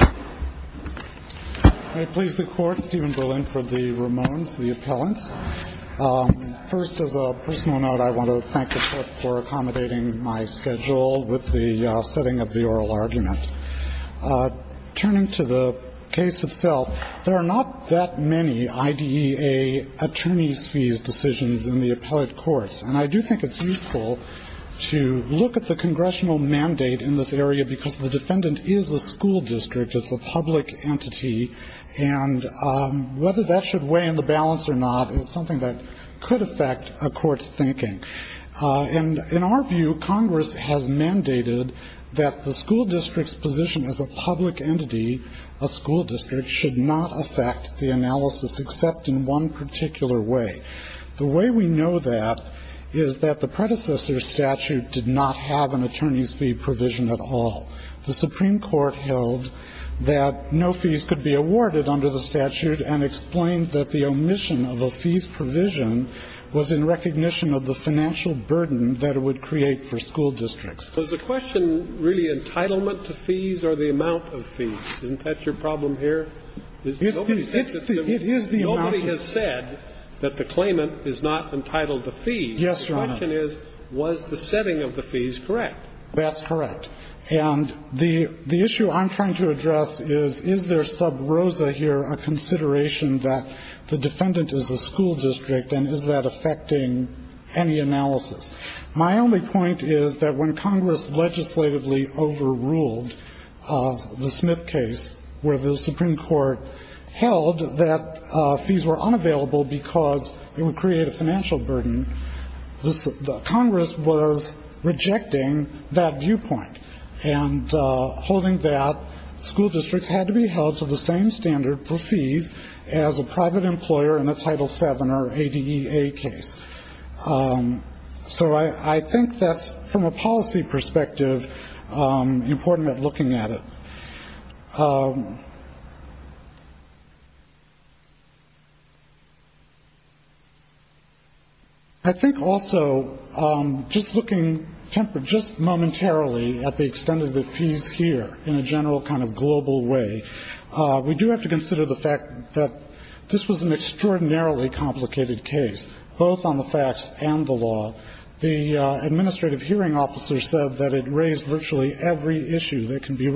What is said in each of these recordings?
I please the Court, Stephen Berlin, for the Ramones, the appellants. First, as a personal note, I want to thank the Court for accommodating my schedule with the setting of the oral argument. Turning to the case itself, there are not that many IDEA attorneys' fees decisions in the appellate courts, and I do think it's useful to look at the congressional mandate in this area, because the defendant is a school district. It's a public entity, and whether that should weigh in the balance or not is something that could affect a court's thinking. And in our view, Congress has mandated that the school district's position as a public entity, a school district, should not affect the analysis except in one particular way. The way we know that is that the predecessor's statute did not have an attorney's fee provision at all. The Supreme Court held that no fees could be awarded under the statute and explained that the omission of a fees provision was in recognition of the financial burden that it would create for school districts. Kennedy, was the question really entitlement to fees or the amount of fees? Nobody said that the amount of fees was the amount of fees. The claimant is not entitled to fees. Yes, Your Honor. The question is, was the setting of the fees correct? That's correct. And the issue I'm trying to address is, is there sub rosa here, a consideration that the defendant is a school district, and is that affecting any analysis? My only point is that when Congress legislatively overruled the Smith case, where the Supreme Court held that fees were unavailable because it would create a financial burden. The Congress was rejecting that viewpoint. And holding that, school districts had to be held to the same standard for fees as a private employer in a Title VII or ADEA case. So I think that's, from a policy perspective, important at looking at it. I think also, just looking, just momentarily at the extent of the fees here in a general kind of global way, we do have to consider the fact that this was an extraordinarily complicated case, both on the facts and the law. The administrative hearing officer said that it raised virtually every issue that can be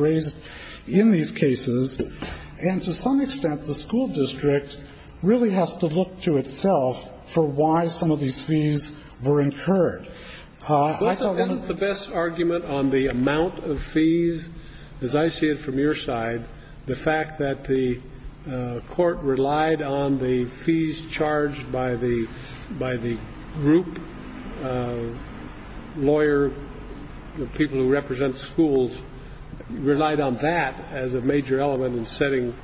And to some extent, the school district really has to look to itself for why some of these fees were incurred. I thought that was the best argument on the amount of fees, as I see it from your side. The fact that the court relied on the fees charged by the group. Lawyer, the people who represent schools relied on that as a major element in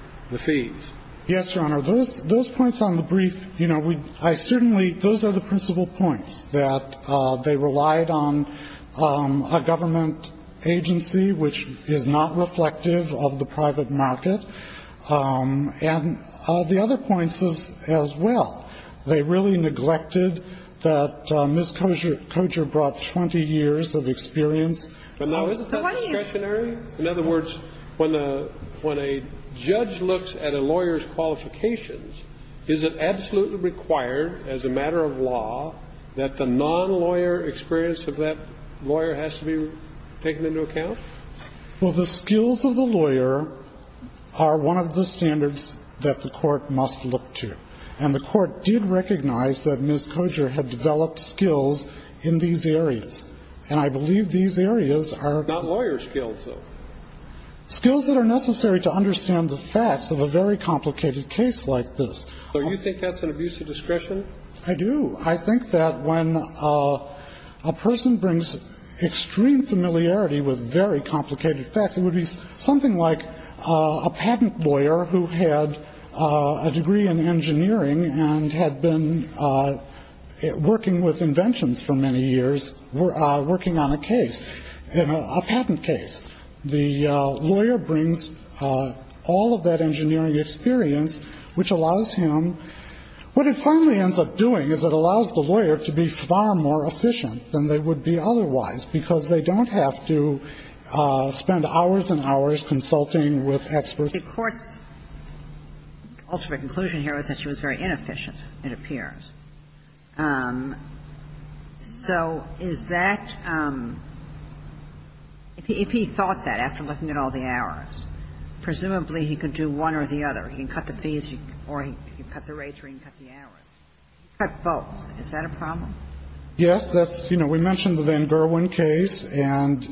Yes, Your Honor. Those points on the brief, you know, I certainly, those are the principal points. That they relied on a government agency which is not reflective of the private market, and the other points as well. They really neglected that Ms. Coger brought 20 years of experience. But now isn't that discretionary? In other words, when a judge looks at a lawyer's qualifications, is it absolutely required as a matter of law that the non-lawyer experience of that lawyer has to be taken into account? Well, the skills of the lawyer are one of the standards that the court must look to. And the court did recognize that Ms. Coger had developed skills in these areas. And I believe these areas are- Not lawyer skills, though. Skills that are necessary to understand the facts of a very complicated case like this. So you think that's an abuse of discretion? I do. I think that when a person brings extreme familiarity with very complicated facts, it would be something like a patent lawyer who had a degree in engineering and had been working with inventions for many years, working on a case, a patent case. The lawyer brings all of that engineering experience, which allows him. What it finally ends up doing is it allows the lawyer to be far more efficient than they would be otherwise, because they don't have to spend hours and hours consulting with experts. The court's ultimate conclusion here was that she was very inefficient, it appears. So is that – if he thought that after looking at all the errors, presumably he could do one or the other. He can cut the fees or he can cut the rates or he can cut the errors. He can cut both. Is that a problem? Yes. That's – you know, we mentioned the Van Gerwen case. And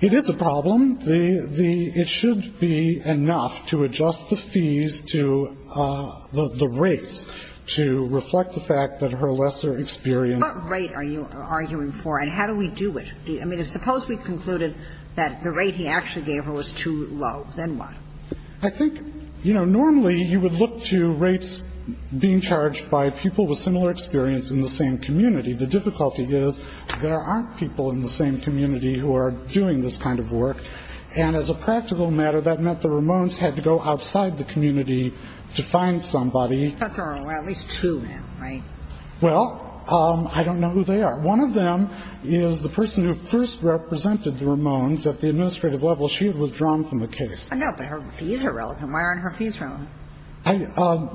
it is a problem. It should be enough to adjust the fees to the rates to reflect the fact that her lesser experience – What rate are you arguing for and how do we do it? I mean, suppose we concluded that the rate he actually gave her was too low, then what? I think, you know, normally you would look to rates being charged by people with similar experience in the same community. The difficulty is there aren't people in the same community who are doing this kind of work. And as a practical matter, that meant the Ramones had to go outside the community to find somebody. But there are at least two, right? Well, I don't know who they are. One of them is the person who first represented the Ramones at the administrative level. She had withdrawn from the case. But her fees are relevant. Why aren't her fees relevant?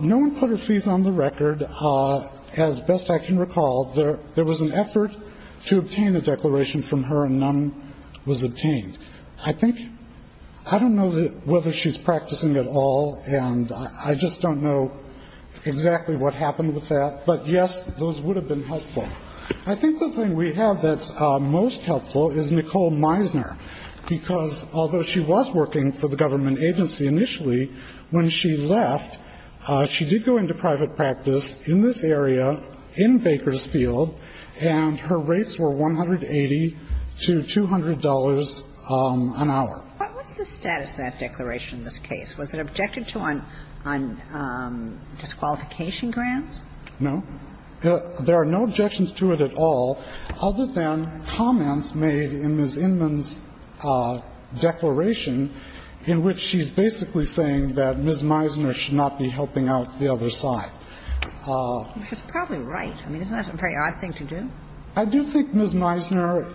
No one put her fees on the record. As best I can recall, there was an effort to obtain a declaration from her and none was obtained. I think I don't know whether she's practicing at all and I just don't know exactly what happened with that. But yes, those would have been helpful. I think the thing we have that's most helpful is Nicole Meisner, because although she was working for the government agency initially, when she left, she did go into for about an hour. What was the status of that declaration in this case? Was it objected to on disqualification grants? No. There are no objections to it at all other than comments made in Ms. Inman's declaration in which she's basically saying that Ms. Meisner should not be helping out the other side. Which is probably right. I mean, isn't that a very odd thing to do? I do think Ms. Meisner,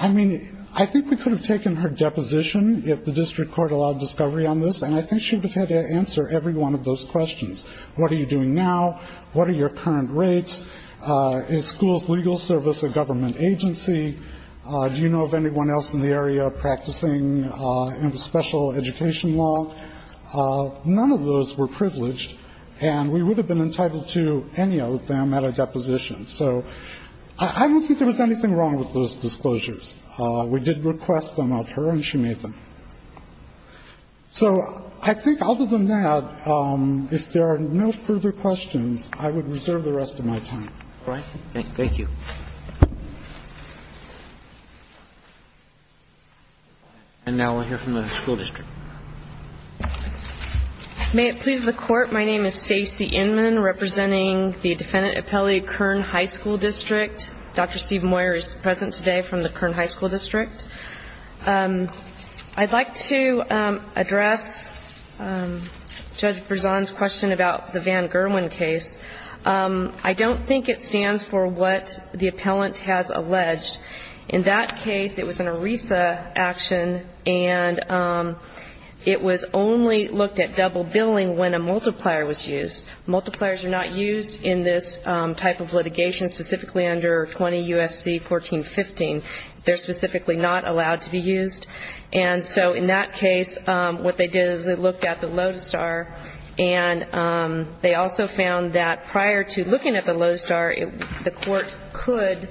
I mean, I think we could have taken her deposition if the district court allowed discovery on this. And I think she would have had to answer every one of those questions. What are you doing now? What are your current rates? Is school's legal service a government agency? Do you know of anyone else in the area practicing special education law? None of those were privileged, and we would have been entitled to any of them at a deposition. So I don't think there was anything wrong with those disclosures. We did request them of her, and she made them. So I think other than that, if there are no further questions, I would reserve the rest of my time. Thank you. And now we'll hear from the school district. May it please the court, my name is Stacey Inman, representing the defendant appellee Kern High School District. Dr. Steve Moyer is present today from the Kern High School District. I'd like to address Judge Berzon's question about the Van Gerwen case. I don't think it stands for what the appellant has alleged. In that case, it was an ERISA action, and it was only looked at double billing when a multiplier was used. Multipliers are not used in this type of litigation, specifically under 20 U.S.C. 1415. They're specifically not allowed to be used. And so in that case, what they did is they looked at the Lodestar, and they also found that prior to looking at the Lodestar, the court could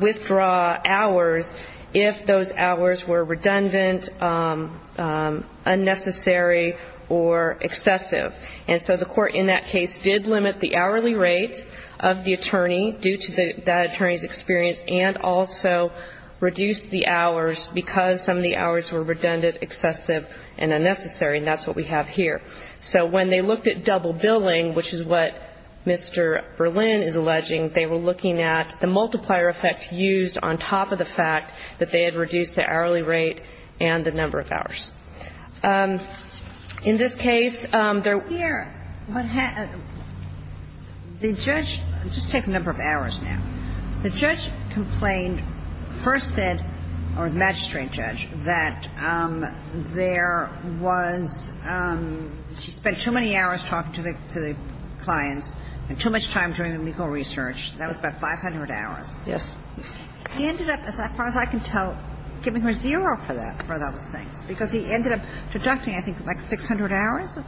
withdraw hours if those hours were redundant, unnecessary, or excessive. And so the court in that case did limit the hourly rate of the attorney due to that attorney's experience and also reduced the hours because some of the hours were redundant, excessive, and unnecessary. And that's what we have here. So when they looked at double billing, which is what Mr. Berlin is alleging, they were looking at the multiplier effect used on top of the fact that they had reduced the hourly rate and the number of hours. In this case, there were ---- Here, what happened ---- the judge ---- I'll just take the number of hours now. The judge complained, first said, or the magistrate judge, that there was ---- she spent too many hours talking to the clients and too much time doing the legal research. That was about 500 hours. Yes. He ended up, as far as I can tell, giving her zero for that, for those things, because he ended up deducting, I think, like 600 hours.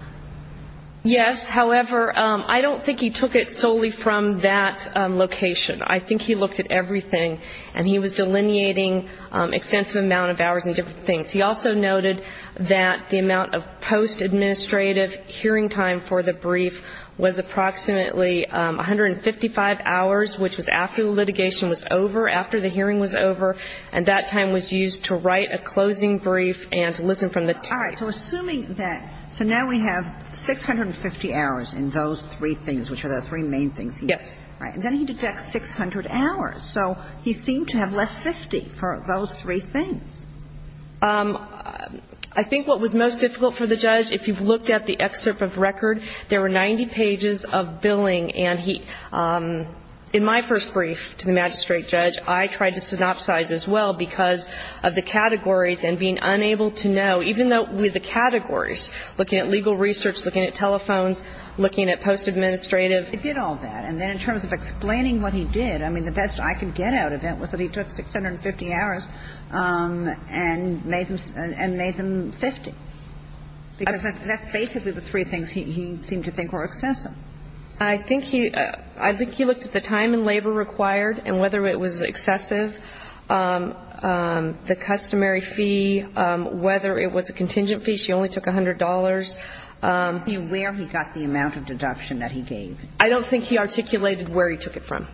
Yes. However, I don't think he took it solely from that location. I think he looked at everything, and he was delineating extensive amount of hours and different things. He also noted that the amount of post-administrative hearing time for the brief was approximately 155 hours, which was after the litigation was over, after the hearing was over, and that time was used to write a closing brief and to listen from the tape. All right. So assuming that ---- so now we have 650 hours in those three things, which are the three main things he did. Yes. Right. And then he deducts 600 hours. So he seemed to have left 50 for those three things. I think what was most difficult for the judge, if you've looked at the excerpt of record, there were 90 pages of billing, and he ---- in my first brief to the magistrate judge, I tried to synopsize as well because of the categories and being unable to know, even though with the categories, looking at legal research, looking at telephones, looking at post-administrative. It did all that. And then in terms of explaining what he did, I mean, the best I could get out of it was that he took 650 hours and made them 50, because that's basically the three things he seemed to think were excessive. I think he ---- I think he looked at the time and labor required and whether it was excessive, the customary fee, whether it was a contingent fee. She only took $100. I'm not aware he got the amount of deduction that he gave. I don't think he articulated where he took it from.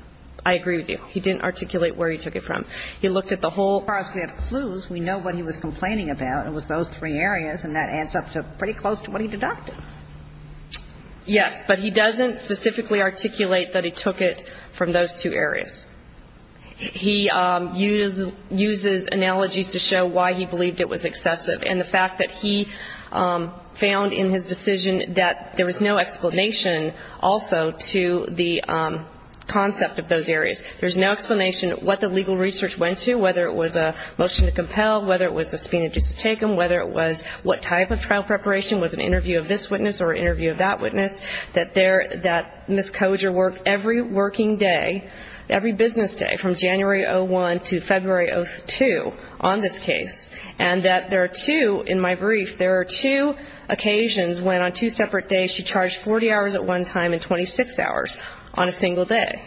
I agree with you. He didn't articulate where he took it from. He looked at the whole ---- As far as we have clues, we know what he was complaining about. It was those three areas, and that adds up to pretty close to what he deducted. Yes. But he doesn't specifically articulate that he took it from those two areas. He uses analogies to show why he believed it was excessive. And the fact that he found in his decision that there was no explanation also to the concept of those areas. There's no explanation what the legal research went to, whether it was a motion to compel, whether it was a speed of justice taken, whether it was what type of trial preparation, was an interview of this witness or an interview of that witness, that there ---- that Ms. Coger worked every working day, every business day from January 01 to February 02 on this case, and that there are two, in my brief, there are two occasions when on two separate days she charged 40 hours at one time and 26 hours on a single day.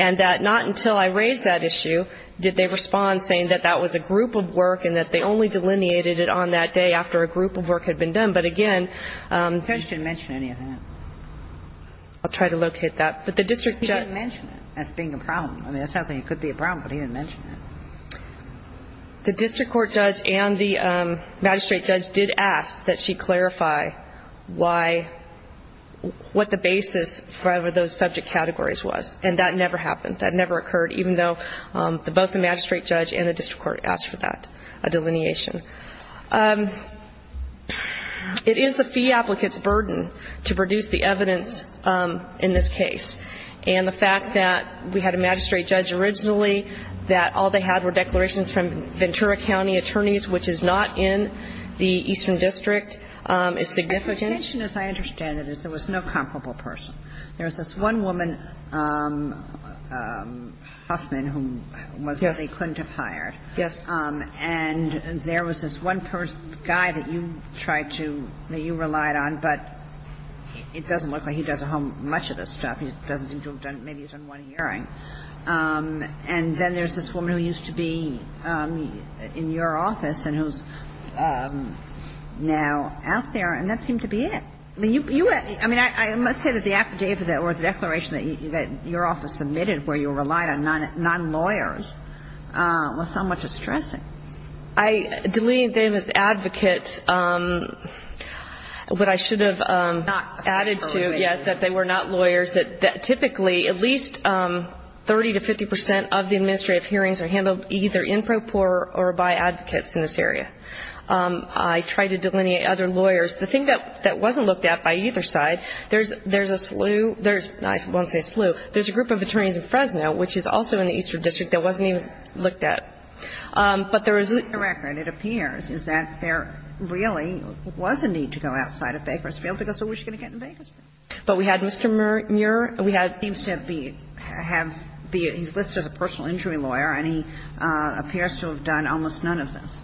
And that not until I raised that issue did they respond saying that that was a group of work and that they only delineated it on that day after a group of work had been done. But again ---- The judge didn't mention any of that. I'll try to locate that. But the district judge ---- He didn't mention it as being a problem. I mean, it sounds like it could be a problem, but he didn't mention it. The district court judge and the magistrate judge did ask that she clarify why ---- what the basis for those subject categories was. And that never happened. That never occurred, even though both the magistrate judge and the district court asked for that delineation. It is the fee applicant's burden to produce the evidence in this case. And the fact that we had a magistrate judge originally, that all they had were declarations from Ventura County attorneys, which is not in the Eastern District, is significant. The intention, as I understand it, is there was no comparable person. There was this one woman, Huffman, who was what they couldn't have hired. Yes. And there was this one guy that you tried to ---- that you relied on, but it doesn't look like he does a whole much of this stuff. He doesn't seem to have done ---- maybe he's done one hearing. And then there's this woman who used to be in your office and who's now out there, and that seemed to be it. I mean, you ---- I mean, I must say that the affidavit or the declaration that your office submitted where you relied on nonlawyers was somewhat distressing. I delineate them as advocates, but I should have added to, yes, that they were not lawyers, that typically at least 30 to 50 percent of the administrative hearings are handled either in pro por or by advocates in this area. I try to delineate other lawyers. The thing that wasn't looked at by either side, there's a slew ---- I won't say slew. There's a group of attorneys in Fresno, which is also in the Eastern District, that wasn't even looked at. But there is a ---- The record, it appears, is that there really was a need to go outside of Bakersfield to go, so what are you going to get in Bakersfield? But we had Mr. Muir, we had ---- He seems to have been ---- he's listed as a personal injury lawyer, and he appears to have done almost none of this,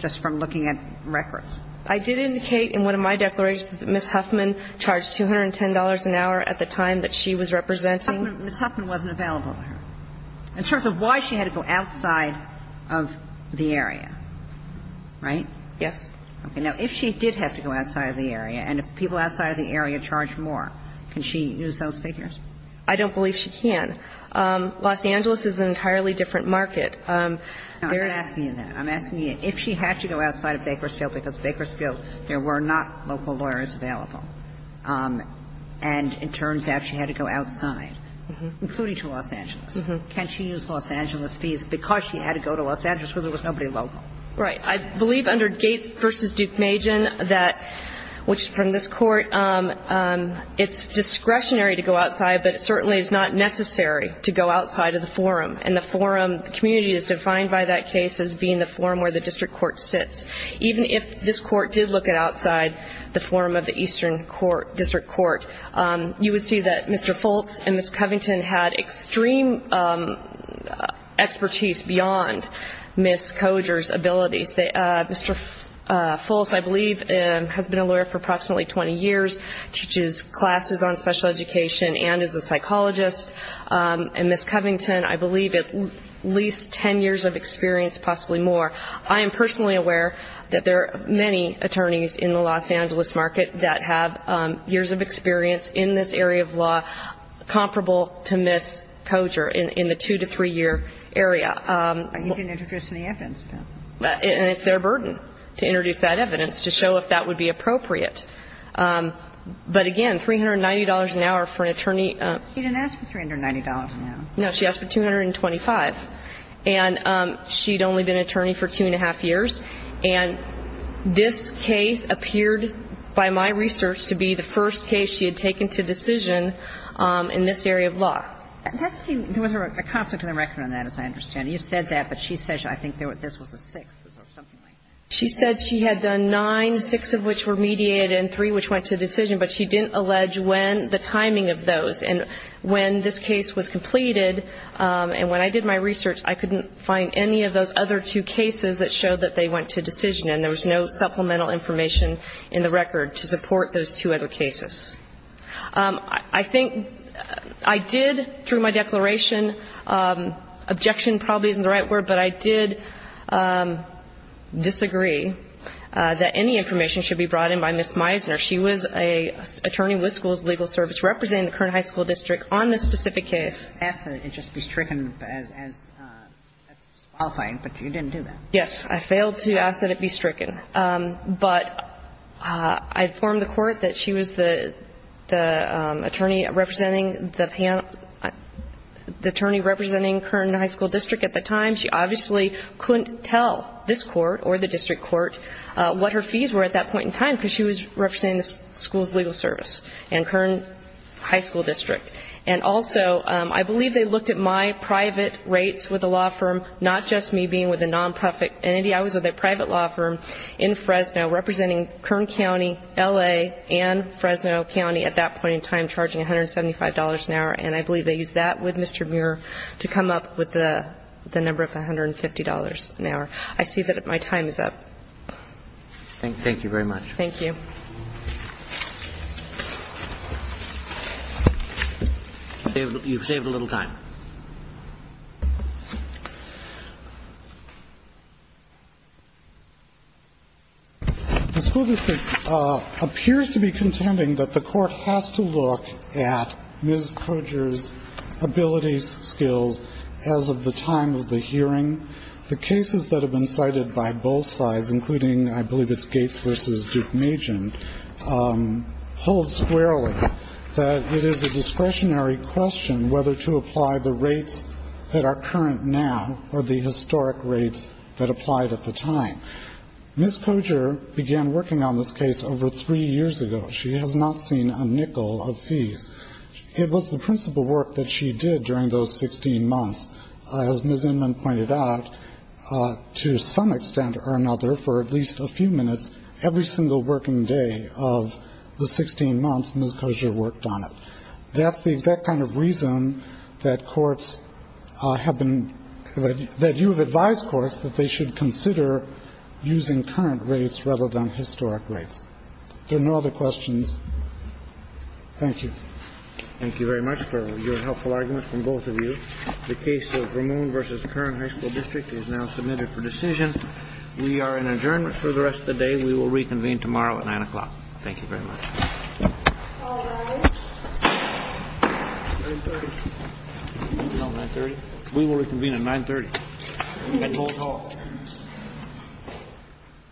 just from looking at records. I did indicate in one of my declarations that Ms. Huffman charged $210 an hour at the time that she was representing. Ms. Huffman wasn't available. In terms of why she had to go outside of the area, right? Yes. Now, if she did have to go outside of the area, and if people outside of the area charged more, can she use those figures? I don't believe she can. Los Angeles is an entirely different market. Now, I'm asking you that. I'm asking you if she had to go outside of Bakersfield, because Bakersfield, there were not local lawyers available, and it turns out she had to go outside, including to Los Angeles. Can she use Los Angeles fees because she had to go to Los Angeles where there was nobody local? Right. I believe under Gates v. Duke Majan that ---- which, from this Court, it's discretionary to go outside, but it certainly is not necessary to go outside of the forum. And the forum, the community is defined by that case as being the forum where the district court sits. Even if this Court did look at outside the forum of the eastern court, district court, you would see that Mr. Fultz and Ms. Covington had extreme expertise beyond Ms. Coger's abilities. Mr. Fultz, I believe, has been a lawyer for approximately 20 years, teaches classes on special education and is a psychologist. And Ms. Covington, I believe, at least 10 years of experience, possibly more. I am personally aware that there are many attorneys in the Los Angeles market that have years of experience in this area of law comparable to Ms. Coger in the two- to three-year area. But you didn't introduce any evidence, though. And it's their burden to introduce that evidence to show if that would be appropriate. But, again, $390 an hour for an attorney ---- She didn't ask for $390 an hour. No, she asked for $225. And she had only been an attorney for two and a half years. And this case appeared, by my research, to be the first case she had taken to decision in this area of law. There was a conflict of the record on that, as I understand. You said that, but she says I think this was a sixth or something like that. She said she had done nine, six of which were mediated and three which went to decision. But she didn't allege when the timing of those. And when this case was completed, and when I did my research, I couldn't find any of those other two cases that showed that they went to decision. And there was no supplemental information in the record to support those two other cases. I think I did, through my declaration, objection probably isn't the right word, but I did disagree that any information should be brought in by Ms. Meisner. She was an attorney with the school's legal service representing the current high school district on this specific case. And I failed to ask that it just be stricken as disqualifying, but you didn't do that. Yes, I failed to ask that it be stricken. But I informed the Court that she was the attorney representing the current high school district at the time. She obviously couldn't tell this Court or the district court what her fees were at that point in time, because she was representing the school's legal service and current high school district. And also, I believe they looked at my private rates with a law firm, not just me being with a nonprofit entity. I was with a private law firm in Fresno representing Kern County, L.A., and Fresno County at that point in time charging $175 an hour. And I believe they used that with Mr. Muir to come up with the number of $150 an hour. I see that my time is up. Thank you very much. Thank you. Thank you. You've saved a little time. The school district appears to be contending that the Court has to look at Ms. Coger's abilities, skills as of the time of the hearing. The cases that have been cited by both sides, including I believe it's Gates v. Duke-Majan, hold squarely that it is a discretionary question whether to apply the rates that are current now or the historic rates that applied at the time. Ms. Coger began working on this case over three years ago. She has not seen a nickel of fees. It was the principal work that she did during those 16 months. As Ms. Inman pointed out, to some extent or another, for at least a few minutes, every single working day of the 16 months, Ms. Coger worked on it. That's the exact kind of reason that courts have been – that you have advised courts that they should consider using current rates rather than historic rates. If there are no other questions, thank you. Thank you very much for your helpful argument from both of you. The case of Ramone v. Curran High School District is now submitted for decision. We are in adjournment for the rest of the day. We will reconvene tomorrow at 9 o'clock. Thank you very much. All rise. 9.30. 9.30. We will reconvene at 9.30 at Holt Hall. We will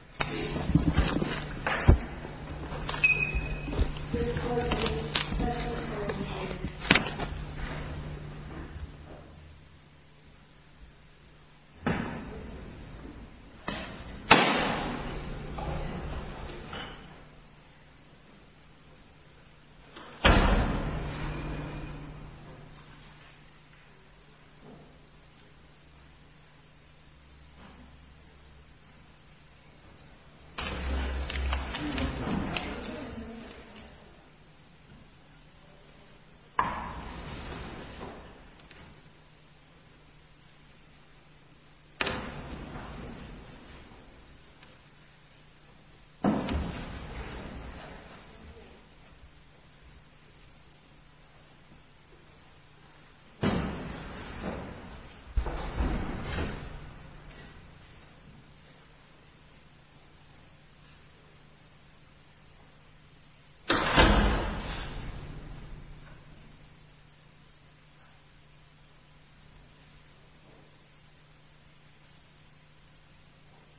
reconvene at 9.30 at Holt Hall. This court is now adjourned. 9.30. 9.30.